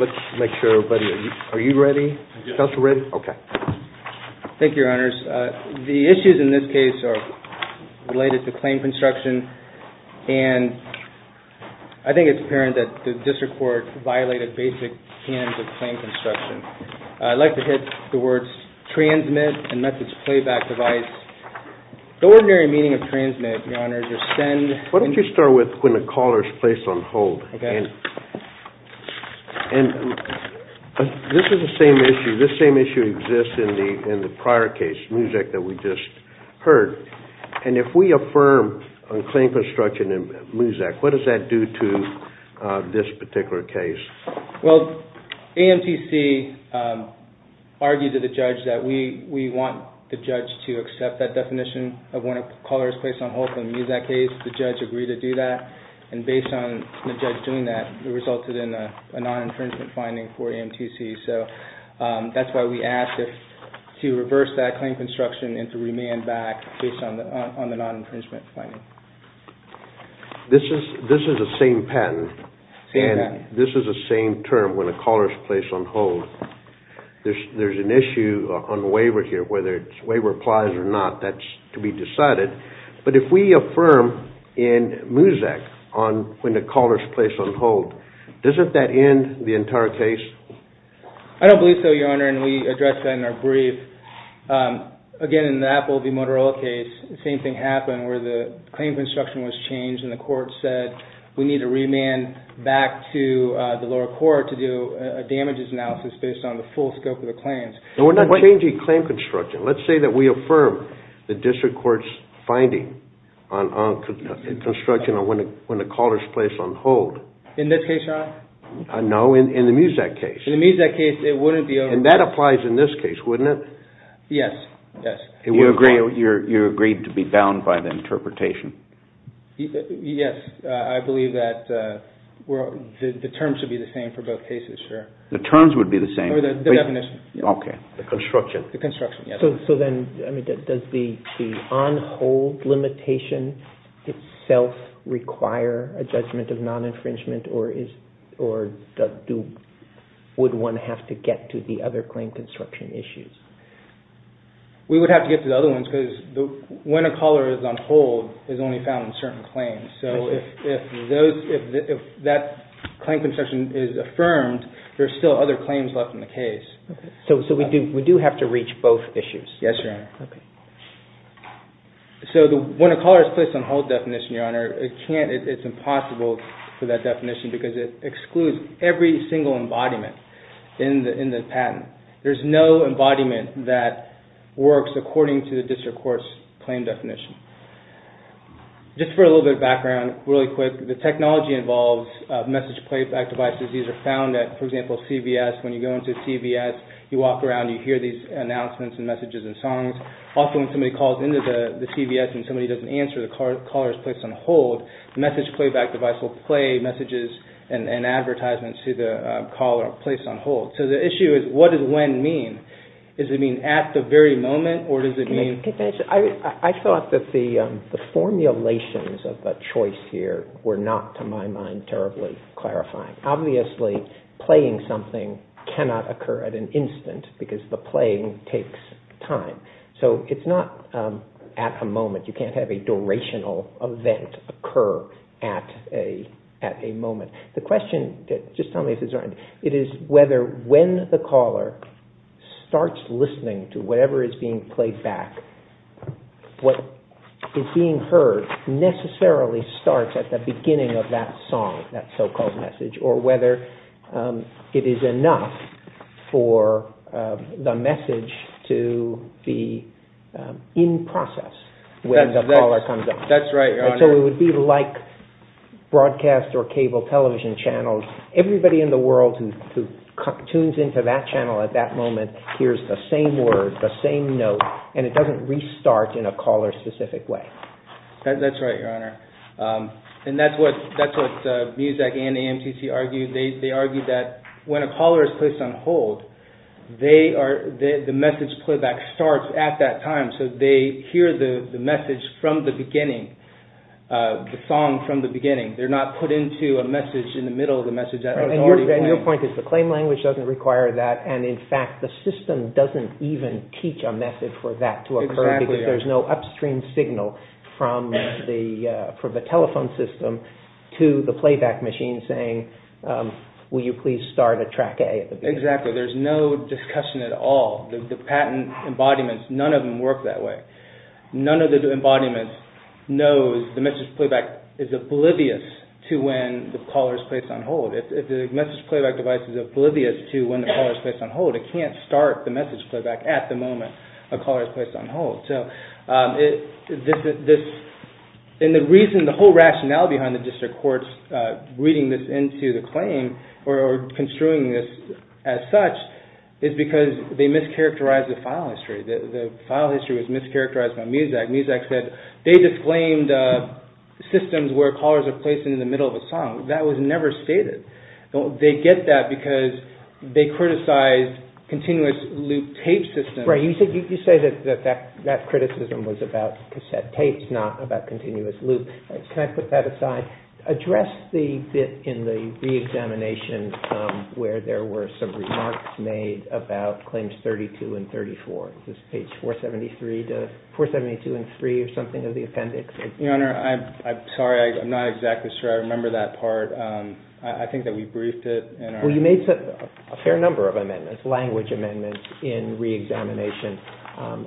Let's make sure everybody, are you ready, Counselor Ridd? Okay. Thank you, Your Honors. The issues in this case are related to claim construction and I think it's apparent that the district court violated basic canons of claim construction. I'd like to hit the words transmit and message playback device. The ordinary meaning of transmit, Your Honors, is send. Why don't you start with when the caller is placed on hold. Okay. And this is the same issue, this same issue exists in the prior case, Muzak, that we just And if we affirm on claim construction in Muzak, what does that do to this particular case? Well, AMTC argued to the judge that we want the judge to accept that definition of when a caller is placed on hold for the Muzak case. The judge agreed to do that and based on the judge doing that, it resulted in a non-infringement finding for AMTC. So that's why we asked to reverse that claim construction and to remand back based on the non-infringement finding. This is the same patent and this is the same term, when a caller is placed on hold. There's an issue on waiver here, whether waiver applies or not, that's to be decided. But if we affirm in Muzak on when the caller is placed on hold, doesn't that end the entire case? I don't believe so, Your Honor, and we addressed that in our brief. Again, in the Apple v. Motorola case, the same thing happened where the claim construction was changed and the court said we need to remand back to the lower court to do a damages analysis based on the full scope of the claims. No, we're not changing claim construction. Let's say that we affirm the district court's finding on construction on when the caller is placed on hold. In this case, Your Honor? No, in the Muzak case. In the Muzak case, it wouldn't be over. And that applies in this case, wouldn't it? Yes. Yes. You agreed to be bound by the interpretation? Yes. I believe that the terms would be the same for both cases, sure. The terms would be the same? The definition. Okay. The construction. The construction, yes. So then, does the on hold limitation itself require a judgment of non-infringement, or would one have to get to the other claim construction issues? We would have to get to the other ones because when a caller is on hold, it's only found in certain claims. So if that claim construction is affirmed, there's still other claims left in the case. So we do have to reach both issues? Yes, Your Honor. Okay. So when a caller is placed on hold definition, Your Honor, it's impossible for that definition because it excludes every single embodiment in the patent. There's no embodiment that works according to the district court's claim definition. Just for a little bit of background, really quick, the technology involves message playback These are found at, for example, CVS. When you go into CVS, you walk around, you hear these announcements and messages and songs. Also, when somebody calls into the CVS and somebody doesn't answer, the caller is placed on hold. The message playback device will play messages and advertisements to the caller placed on hold. So the issue is, what does when mean? Does it mean at the very moment, or does it mean? I thought that the formulations of the choice here were not, to my mind, terribly clarifying. Obviously, playing something cannot occur at an instant because the playing takes time. So it's not at a moment. You can't have a durational event occur at a moment. The question, just tell me if this is right, it is whether when the caller starts listening to whatever is being played back, what is being heard necessarily starts at the beginning of that song, that so-called message, or whether it is enough for the message to be in process when the caller comes up. That's right, Your Honor. So it would be like broadcast or cable television channels. Everybody in the world who tunes into that channel at that moment hears the same word, the same note, and it doesn't restart in a caller-specific way. That's right, Your Honor. And that's what MUSEC and AMTC argued. They argued that when a caller is placed on hold, the message playback starts at that time. So they hear the message from the beginning, the song from the beginning. They're not put into a message in the middle of the message that was already played. And your point is the claim language doesn't require that, and in fact, the system doesn't even teach a message for that to occur because there's no upstream signal from the telephone system to the playback machine saying, will you please start at track A at the beginning. Exactly. There's no discussion at all. The patent embodiments, none of them work that way. None of the embodiments know the message playback is oblivious to when the caller is placed on hold. If the message playback device is oblivious to when the caller is placed on hold, it can't start the message playback at the moment a caller is placed on hold. And the reason, the whole rationale behind the district courts reading this into the characterized the file history. The file history was mischaracterized by Muzak. Muzak said they disclaimed systems where callers are placed in the middle of a song. That was never stated. They get that because they criticized continuous loop tape systems. Right. You say that that criticism was about cassette tapes, not about continuous loop. Can I put that aside? Can I address the bit in the re-examination where there were some remarks made about claims 32 and 34? Is this page 472 and 3 or something of the appendix? Your Honor, I'm sorry. I'm not exactly sure I remember that part. I think that we briefed it. Well, you made a fair number of amendments, language amendments in re-examination.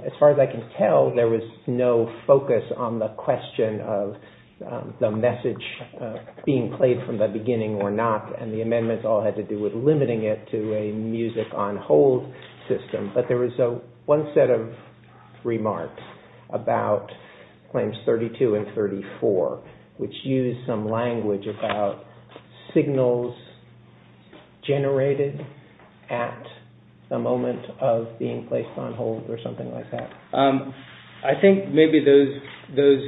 As far as I can tell, there was no focus on the question of the message being played from the beginning or not. And the amendments all had to do with limiting it to a music on hold system. But there was one set of remarks about claims 32 and 34, which used some language about signals generated at the moment of being placed on hold or something like that. I think maybe those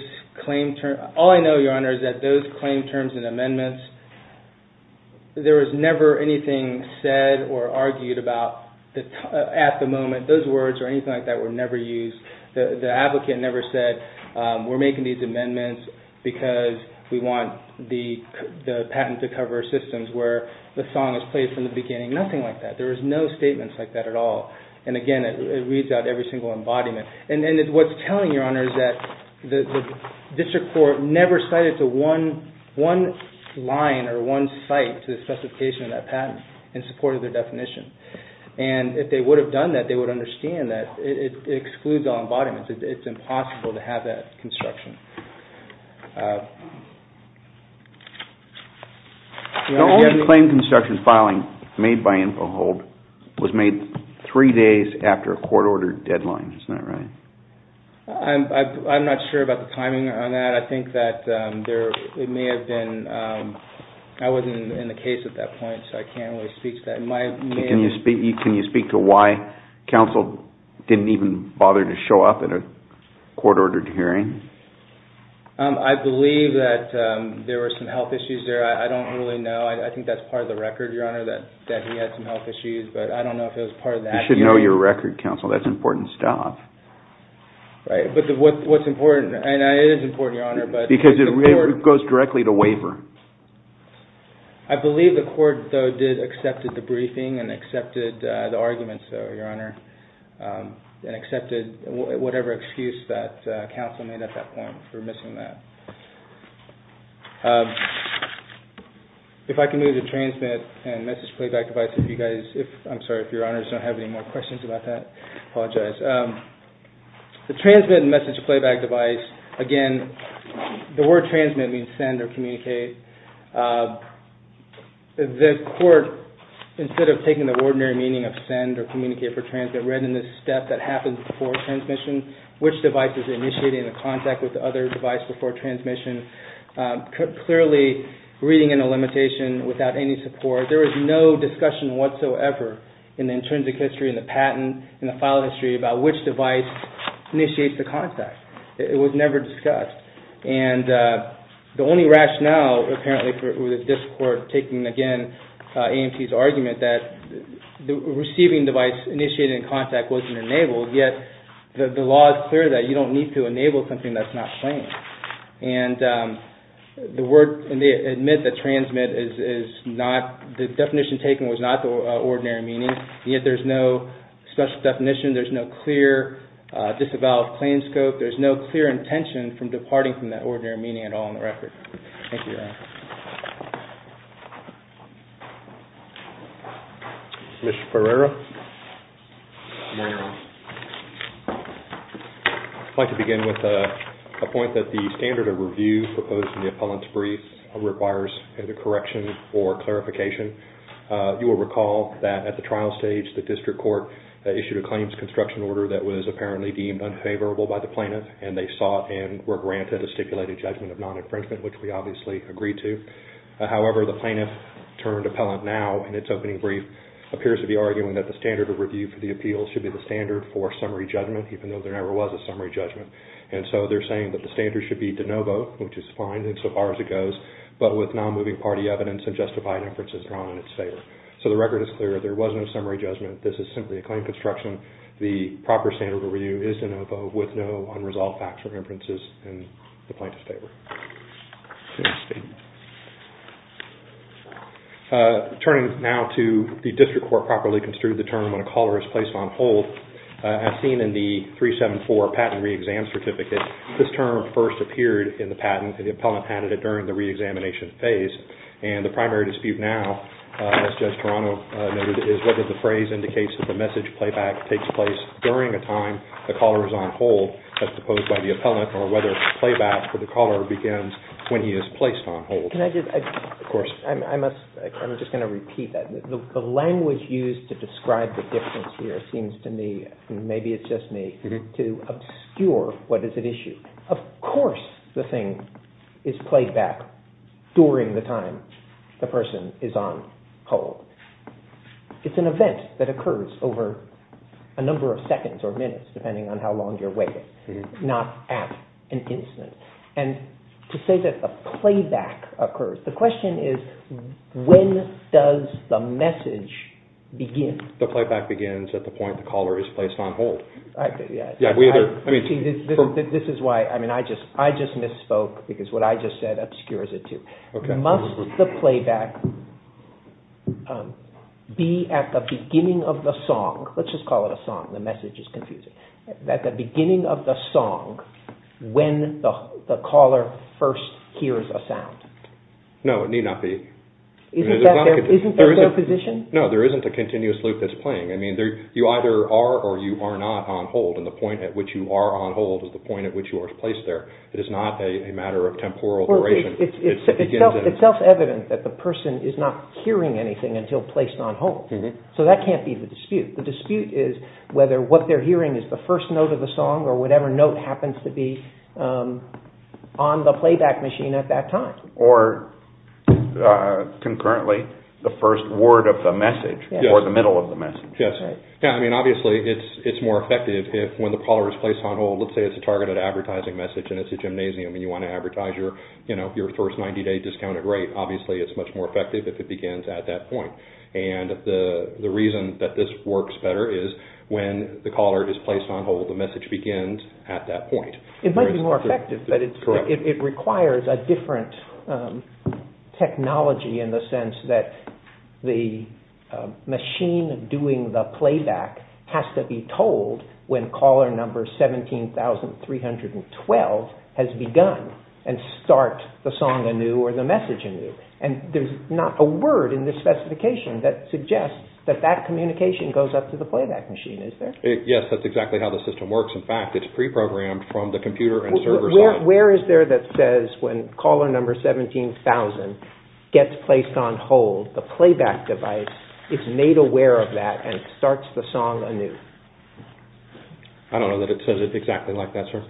claim terms, all I know, Your Honor, is that those claim terms and amendments, there was never anything said or argued about at the moment. Those words or anything like that were never used. The applicant never said, we're making these amendments because we want the patent to cover systems where the song is played from the beginning. Nothing like that. There was no statements like that at all. And again, it reads out every single embodiment. And what's telling, Your Honor, is that the district court never cited one line or one site to the specification of that patent in support of the definition. And if they would have done that, they would understand that it excludes all embodiments. It's impossible to have that construction. The only claim construction filing made by Info Hold was made three days after a court order deadline. Isn't that right? I'm not sure about the timing on that. I think that it may have been, I wasn't in the case at that point, so I can't really speak to that. Can you speak to why counsel didn't even bother to show up at a court-ordered hearing? I believe that there were some health issues there. I don't really know. I think that's part of the record, Your Honor, that he had some health issues. But I don't know if it was part of that. You should know your record, counsel. That's important stuff. Right. But what's important? And it is important, Your Honor. Because it goes directly to waiver. I believe the court, though, did accept the briefing and accepted the arguments, Your Honor, and accepted whatever excuse that counsel made at that point for missing that. If I can move to transmit and message playback device, if you guys, I'm sorry, if Your Honors don't have any more questions about that, I apologize. The transmit and message playback device, again, the word transmit means send or communicate. The court, instead of taking the ordinary meaning of send or communicate for transmit, read in this step that happens before transmission, which device is initiating the contact with the other device before transmission. Clearly, reading in a limitation without any support, there was no discussion whatsoever in the intrinsic history and the patent and the file history about which device initiates the contact. It was never discussed. And the only rationale, apparently, with this court taking, again, AMT's argument that the receiving device initiating contact wasn't enabled, yet the law is clear that you don't need to enable something that's not claimed. And the word, and they admit that transmit is not, the definition taken was not the ordinary meaning, and yet there's no special definition. There's no clear disavowed claim scope. There's no clear intention from departing from that ordinary meaning at all in the record. Thank you, Your Honor. Mr. Pereira? I'd like to begin with a point that the standard of review proposed in the appellant's brief requires either correction or clarification. You will recall that at the trial stage, the district court issued a claims construction order that was apparently deemed unfavorable by the plaintiff, and they sought and were granted a stipulated judgment of non-infringement, which we obviously agreed to. However, the plaintiff turned appellant now in its opening brief appears to be arguing that the standard of review for the appeal should be the standard for summary judgment, even though there never was a summary judgment. And so they're saying that the standard should be de novo, which is fine insofar as it goes, but with non-moving party evidence and justified inferences drawn in its favor. So the record is clear. There was no summary judgment. This is simply a claim construction. The proper standard of review is de novo, with no unresolved factual inferences in the plaintiff's favor. Turning now to the district court properly construed the term when a caller is placed on hold, as seen in the 374 patent re-exam certificate, this term first appeared in the patent, and the appellant added it during the re-examination phase. And the primary dispute now, as Judge Toronto noted, is whether the phrase indicates that it takes place during a time the caller is on hold, as proposed by the appellant, or whether the playback for the caller begins when he is placed on hold. Of course. I'm just going to repeat that. The language used to describe the difference here seems to me, and maybe it's just me, to obscure what is at issue. Of course the thing is played back during the time the person is on hold. It's an event that occurs over a number of seconds or minutes, depending on how long you're waiting, not at an instant. And to say that the playback occurs, the question is when does the message begin? The playback begins at the point the caller is placed on hold. This is why I just misspoke, because what I just said obscures it too. Must the playback be at the beginning of the song? Let's just call it a song, the message is confusing. At the beginning of the song, when the caller first hears a sound. No, it need not be. Isn't that their position? No, there isn't a continuous loop that's playing. You either are or you are not on hold, and the point at which you are on hold is the point at which you are placed there. It is not a matter of temporal duration. It's self-evident that the person is not hearing anything until placed on hold. So that can't be the dispute. The dispute is whether what they're hearing is the first note of the song or whatever note happens to be on the playback machine at that time. Or concurrently, the first word of the message, or the middle of the message. Yes. I mean obviously it's more effective if when the caller is placed on hold, let's say it's a targeted advertising message and it's a gymnasium and you want to advertise your first 90-day discounted rate, obviously it's much more effective if it begins at that point. And the reason that this works better is when the caller is placed on hold, the message begins at that point. It might be more effective, but it requires a different technology in the sense that the machine doing the playback has to be told when caller number 17,312 has begun and start the song anew or the message anew. And there's not a word in this specification that suggests that that communication goes up to the playback machine, is there? Yes, that's exactly how the system works. In fact, it's pre-programmed from the computer and server side. Where is there that says when caller number 17,000 gets placed on hold, the playback device is made aware of that and starts the song anew. I don't know that it says it exactly like that, sir.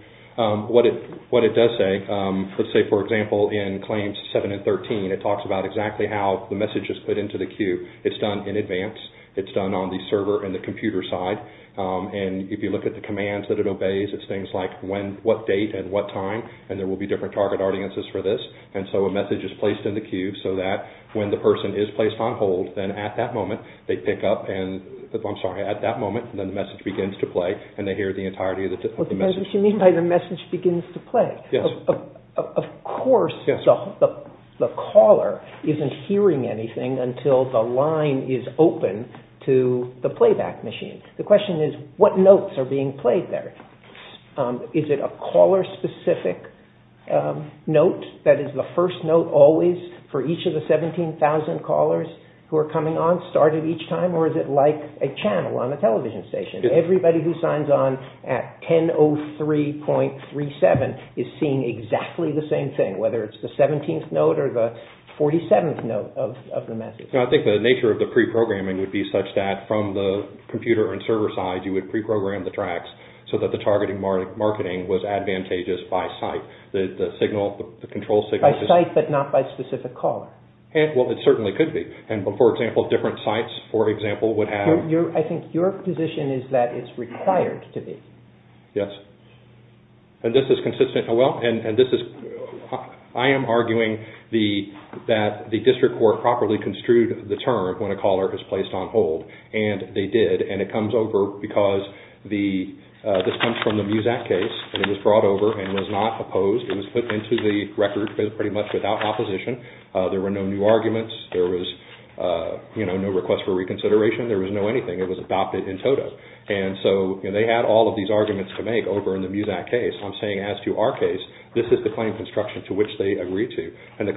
What it does say, let's say for example in claims 7 and 13, it talks about exactly how the message is put into the queue. It's done in advance. It's done on the server and the computer side. And if you look at the commands that it obeys, it's things like what date and what time and there will be different target audiences for this. And so a message is placed in the queue so that when the person is placed on hold, then at that moment, they pick up and I'm sorry, at that moment, the message begins to play and they hear the entirety of the message. What you mean by the message begins to play? Yes. Of course the caller isn't hearing anything until the line is open to the playback machine. The question is what notes are being played there? Is it a caller specific note that is the first note always for each of the 17,000 callers who are coming on, started each time or is it like a channel on a television station? Everybody who signs on at 1003.37 is seeing exactly the same thing, whether it's the 17th note or the 47th note of the message. I think the nature of the pre-programming would be such that from the computer and server side, you would pre-program the tracks so that the targeting marketing was advantageous by site. The signal, the control signal... By site but not by specific caller? Well, it certainly could be. And for example, different sites, for example, would have... I think your position is that it's required to be. Yes. And this is consistent... Well, and this is... I am arguing that the district court properly construed the term when a caller is placed on hold and they did and it comes over because this comes from the Muzak case and it was brought over and was not opposed. It was put into the record pretty much without opposition. There were no new arguments. There was no request for reconsideration. There was no anything. It was adopted in total. And so they had all of these arguments to make over in the Muzak case. I am saying as to our case, this is the claim construction to which they agreed to and the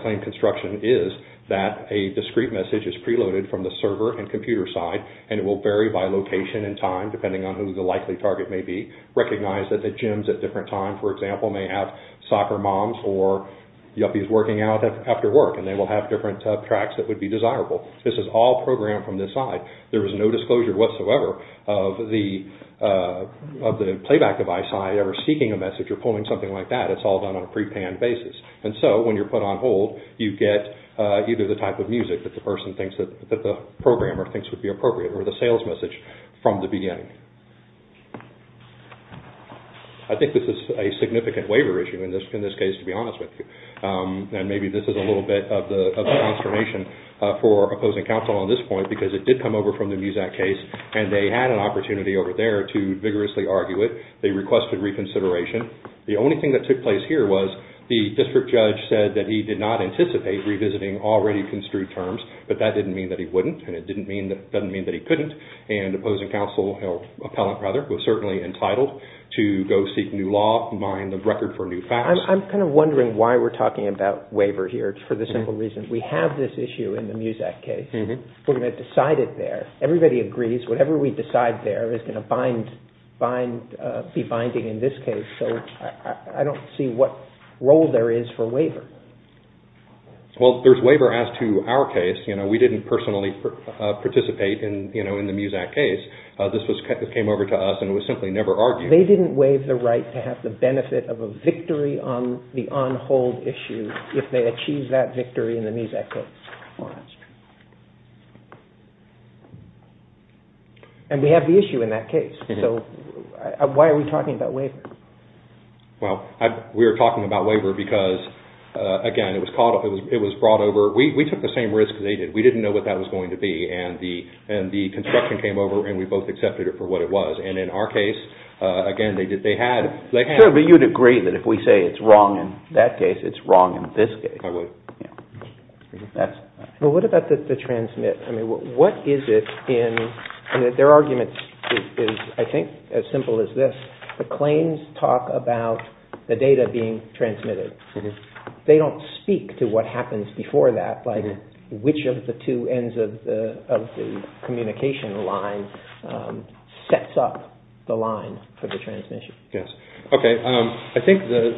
And it will vary by location and time depending on who the likely target may be. Recognize that the gyms at different times, for example, may have soccer moms or yuppies working out after work and they will have different tracks that would be desirable. This is all programmed from this side. There was no disclosure whatsoever of the playback device side ever seeking a message or pulling something like that. It's all done on a prepanned basis. And so when you're put on hold, you get either the type of music that the person thinks that the programmer thinks would be appropriate or the sales message from the beginning. I think this is a significant waiver issue in this case to be honest with you. And maybe this is a little bit of the consternation for opposing counsel on this point because it did come over from the Muzak case and they had an opportunity over there to vigorously argue it. They requested reconsideration. The only thing that took place here was the district judge said that he did not anticipate revisiting already construed terms, but that didn't mean that he wouldn't and it doesn't mean that he couldn't. And opposing counsel, or appellant rather, was certainly entitled to go seek new law and bind the record for new facts. I'm kind of wondering why we're talking about waiver here for this simple reason. We have this issue in the Muzak case. We're going to decide it there. Everybody agrees whatever we decide there is going to be binding in this case. So I don't see what role there is for waiver. Well, there's waiver as to our case. We didn't personally participate in the Muzak case. This came over to us and was simply never argued. They didn't waive the right to have the benefit of a victory on the on-hold issue if they achieved that victory in the Muzak case. And we have the issue in that case. So why are we talking about waiver? Well, we're talking about waiver because, again, it was brought over. We took the same risk as they did. We didn't know what that was going to be. And the construction came over and we both accepted it for what it was. And in our case, again, they had. Sure, but you'd agree that if we say it's wrong in that case, it's wrong in this case. I would. Well, what about the transmit? I mean, what is it in, and their argument is, I think, as simple as this. The claims talk about the data being transmitted. They don't speak to what happens before that, like which of the two ends of the communication line sets up the line for the transmission. Yes. Okay. I think the,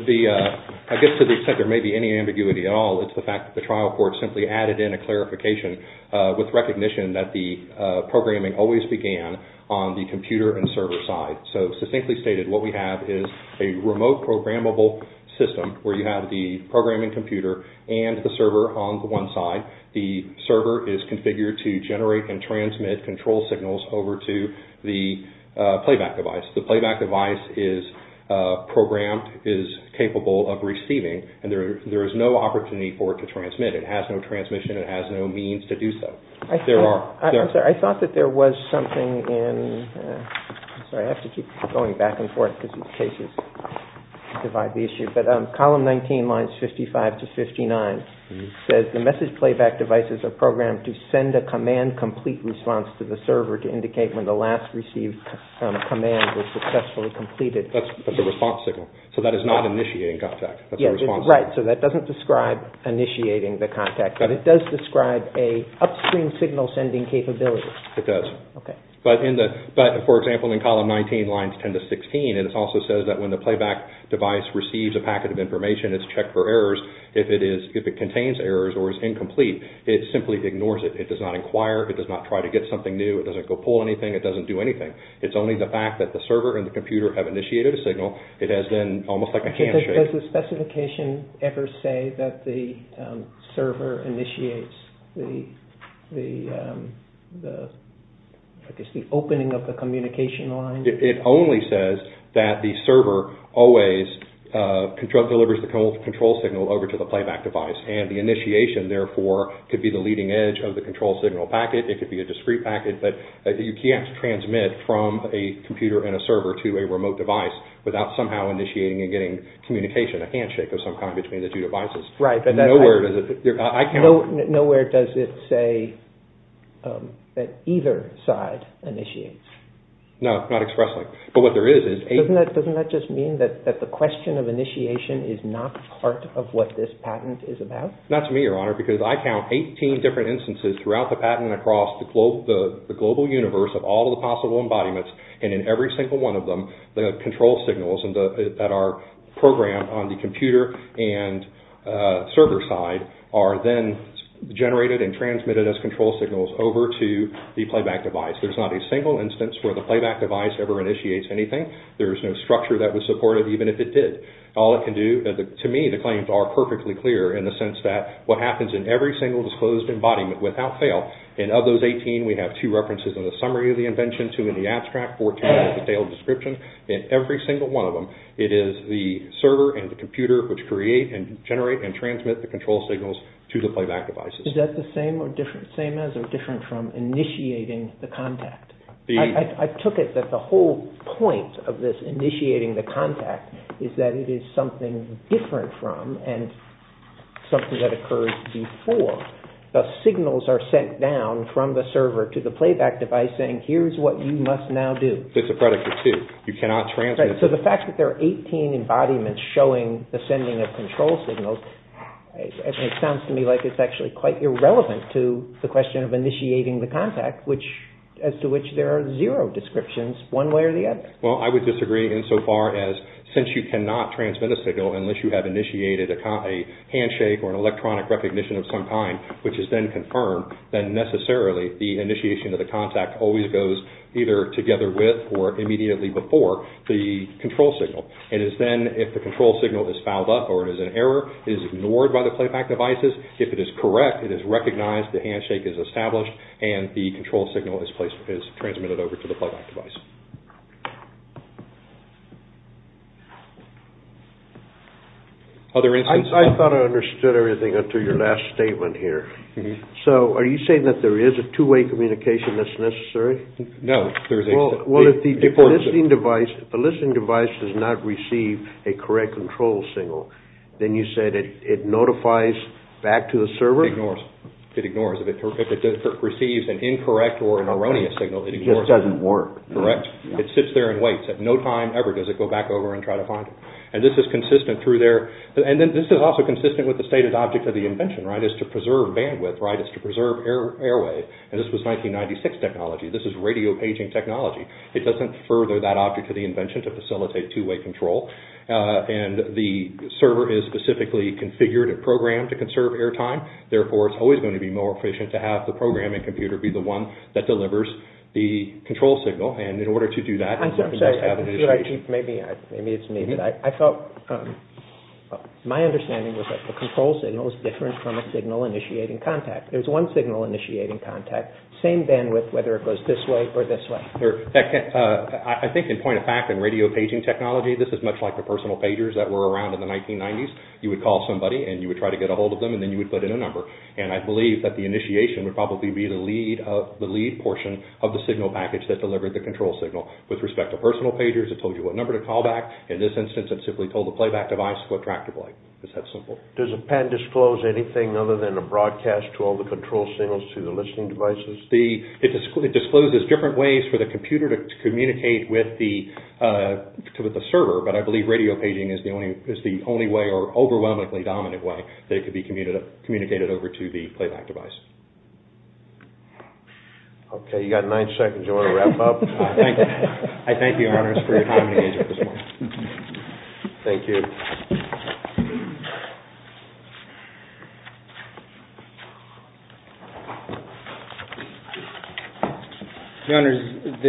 I guess to the extent there may be any ambiguity at all, it's the fact that the trial court simply added in a clarification with recognition that the programming always began on the computer and server side. So, succinctly stated, what we have is a remote programmable system where you have the programming computer and the server on one side. The server is configured to generate and transmit control signals over to the playback device. The playback device is programmed, is capable of receiving, and there is no opportunity for it to transmit. It has no transmission. It has no means to do so. There are. I'm sorry. I thought that there was something in, sorry, I have to keep going back and forth because these cases divide the issue, but column 19, lines 55 to 59, says the message playback devices are programmed to send a command complete response to the server to indicate when the last received command was successfully completed. That's the response signal. So that is not initiating contact. That's the response signal. Right. So that doesn't describe initiating the contact, but it does describe an upstream signal sending capability. It does. Okay. But, for example, in column 19, lines 10 to 16, it also says that when the playback device receives a packet of information, it's checked for errors. If it contains errors or is incomplete, it simply ignores it. It does not inquire. It does not try to get something new. It doesn't go pull anything. It doesn't do anything. It's only the fact that the server and the computer have initiated a signal. It has been almost like a handshake. Does the specification ever say that the server initiates the opening of the communication line? It only says that the server always delivers the control signal over to the playback device, and the initiation, therefore, could be the leading edge of the control signal packet. It could be a discrete packet, but you can't transmit from a computer and a server to a remote device without somehow initiating and getting communication, a handshake of some kind between the two devices. Right. Nowhere does it say that either side initiates. No. Not expressly. But what there is is… Doesn't that just mean that the question of initiation is not part of what this patent is about? Not to me, Your Honor, because I count 18 different instances throughout the patent and across the global universe of all the possible embodiments, and in every single one of them, the control signals that are programmed on the computer and server side are then generated and transmitted as control signals over to the playback device. There's not a single instance where the playback device ever initiates anything. There's no structure that would support it, even if it did. All it can do, to me, the claims are perfectly clear in the sense that what happens in every single disclosed embodiment without fail, and of those 18, we have two references in the summary of the invention, two in the abstract, four detailed descriptions. In every single one of them, it is the server and the computer which create and generate and transmit the control signals to the playback devices. Is that the same as or different from initiating the contact? I took it that the whole point of this initiating the contact is that it is something different from and something that occurs before the signals are sent down from the server to the playback device by saying, here's what you must now do. It's a predicate, too. You cannot transmit... So the fact that there are 18 embodiments showing the sending of control signals, it sounds to me like it's actually quite irrelevant to the question of initiating the contact, as to which there are zero descriptions, one way or the other. Well, I would disagree insofar as, since you cannot transmit a signal unless you have initiated a handshake or an electronic recognition of some kind, which is then confirmed, then necessarily the initiation of the contact always goes either together with or immediately before the control signal. It is then, if the control signal is fouled up or it is an error, it is ignored by the playback devices. If it is correct, it is recognized, the handshake is established, and the control signal is transmitted over to the playback device. Other instances? I thought I understood everything up to your last statement here. So are you saying that there is a two-way communication that's necessary? No, there isn't. Well, if the listening device does not receive a correct control signal, then you said it notifies back to the server? It ignores. It ignores. If it receives an incorrect or an erroneous signal, it ignores it. It just doesn't work. Correct. It sits there and waits. At no time ever does it go back over and try to find it. And this is consistent through there. And this is also consistent with the stated object of the invention, right? It's to preserve bandwidth, right? It's to preserve airway. And this was 1996 technology. This is radio paging technology. It doesn't further that object of the invention to facilitate two-way control. And the server is specifically configured and programmed to conserve airtime. Therefore, it's always going to be more efficient to have the programming computer be the one that delivers the control signal. And in order to do that, you have to have an issue. Maybe it's me, but I felt my understanding was that the control signal is different from a signal initiating contact. There's one signal initiating contact, same bandwidth, whether it goes this way or this way. I think in point of fact, in radio paging technology, this is much like the personal pagers that were around in the 1990s. You would call somebody and you would try to get a hold of them and then you would put in a number. And I believe that the initiation would probably be the lead portion of the signal package that delivered the control signal. With respect to personal pagers, it told you what number to call back. In this instance, it simply told the playback device what track to play. It's that simple. Does a pen disclose anything other than a broadcast to all the control signals to the listening devices? It discloses different ways for the computer to communicate with the server, but I believe radio paging is the only way or overwhelmingly dominant way that it could be communicated over to the playback device. Okay, you've got nine seconds. Do you want to wrap up? I thank you, Your Honors, for your time and engagement this morning. Thank you. Your Honors,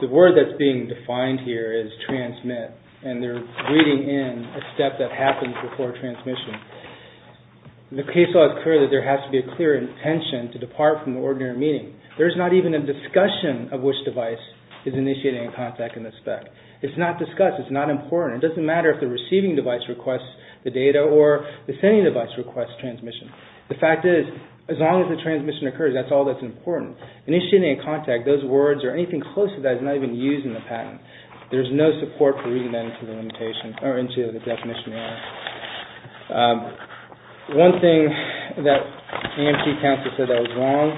the word that's being defined here is transmit, and they're reading in a step that happens before transmission. The case law is clear that there has to be a clear intention to depart from the ordinary meaning. There's not even a discussion of which device is initiating a contact in the spec. It's not discussed. It's not important. It doesn't matter if the receiving device requests the data or the sending device requests transmission. The fact is, as long as the transmission occurs, that's all that's important. Initiating a contact, those words or anything close to that is not even used in the patent. There's no support for reading that into the definition. One thing that AMT counsel said that was wrong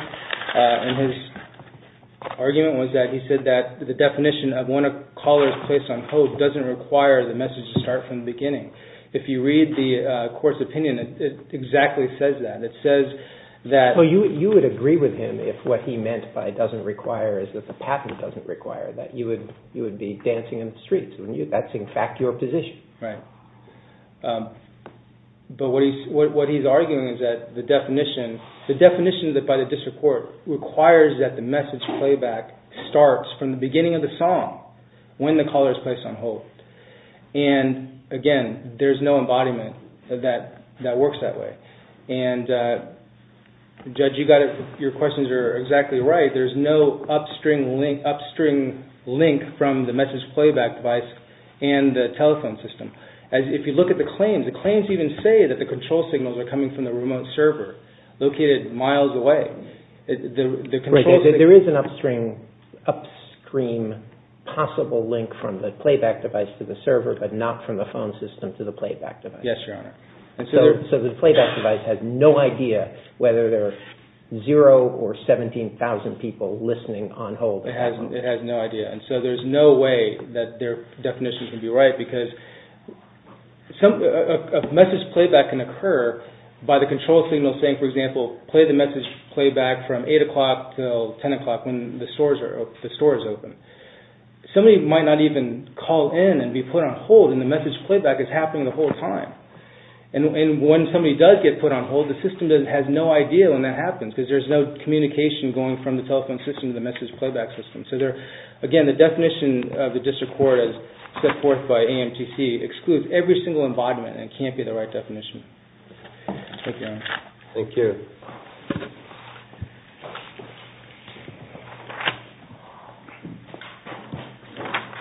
in his argument was that he said that the definition of when a caller is placed on hold doesn't require the message to start from the beginning. If you read the court's opinion, it exactly says that. You would agree with him if what he meant by doesn't require is that the patent doesn't require that you would be dancing in the streets. That's, in fact, your position. But what he's arguing is that the definition, the definition by the district court requires that the message playback starts from the beginning of the song when the caller is placed on hold. Again, there's no embodiment that works that way. Judge, your questions are exactly right. There's no upstream link from the message playback device and the telephone system. If you look at the claims, the claims even say that the control signals are coming from the remote server located miles away. There is an upstream possible link from the playback device to the server but not from the phone system to the playback device. Yes, Your Honor. So the playback device has no idea whether there are zero or 17,000 people listening on hold. It has no idea. So there's no way that their definition can be right because a message playback can occur by the control signal saying, for example, play the message playback from 8 o'clock till 10 o'clock when the store is open. Somebody might not even call in and be put on hold and the message playback is happening the whole time. When somebody does get put on hold, the system has no idea when that happens because there's no communication going from the telephone system to the message playback system. Again, the definition of the district court as set forth by AMTC excludes every single embodiment and it can't be the right definition. Thank you, Your Honor. Thank you.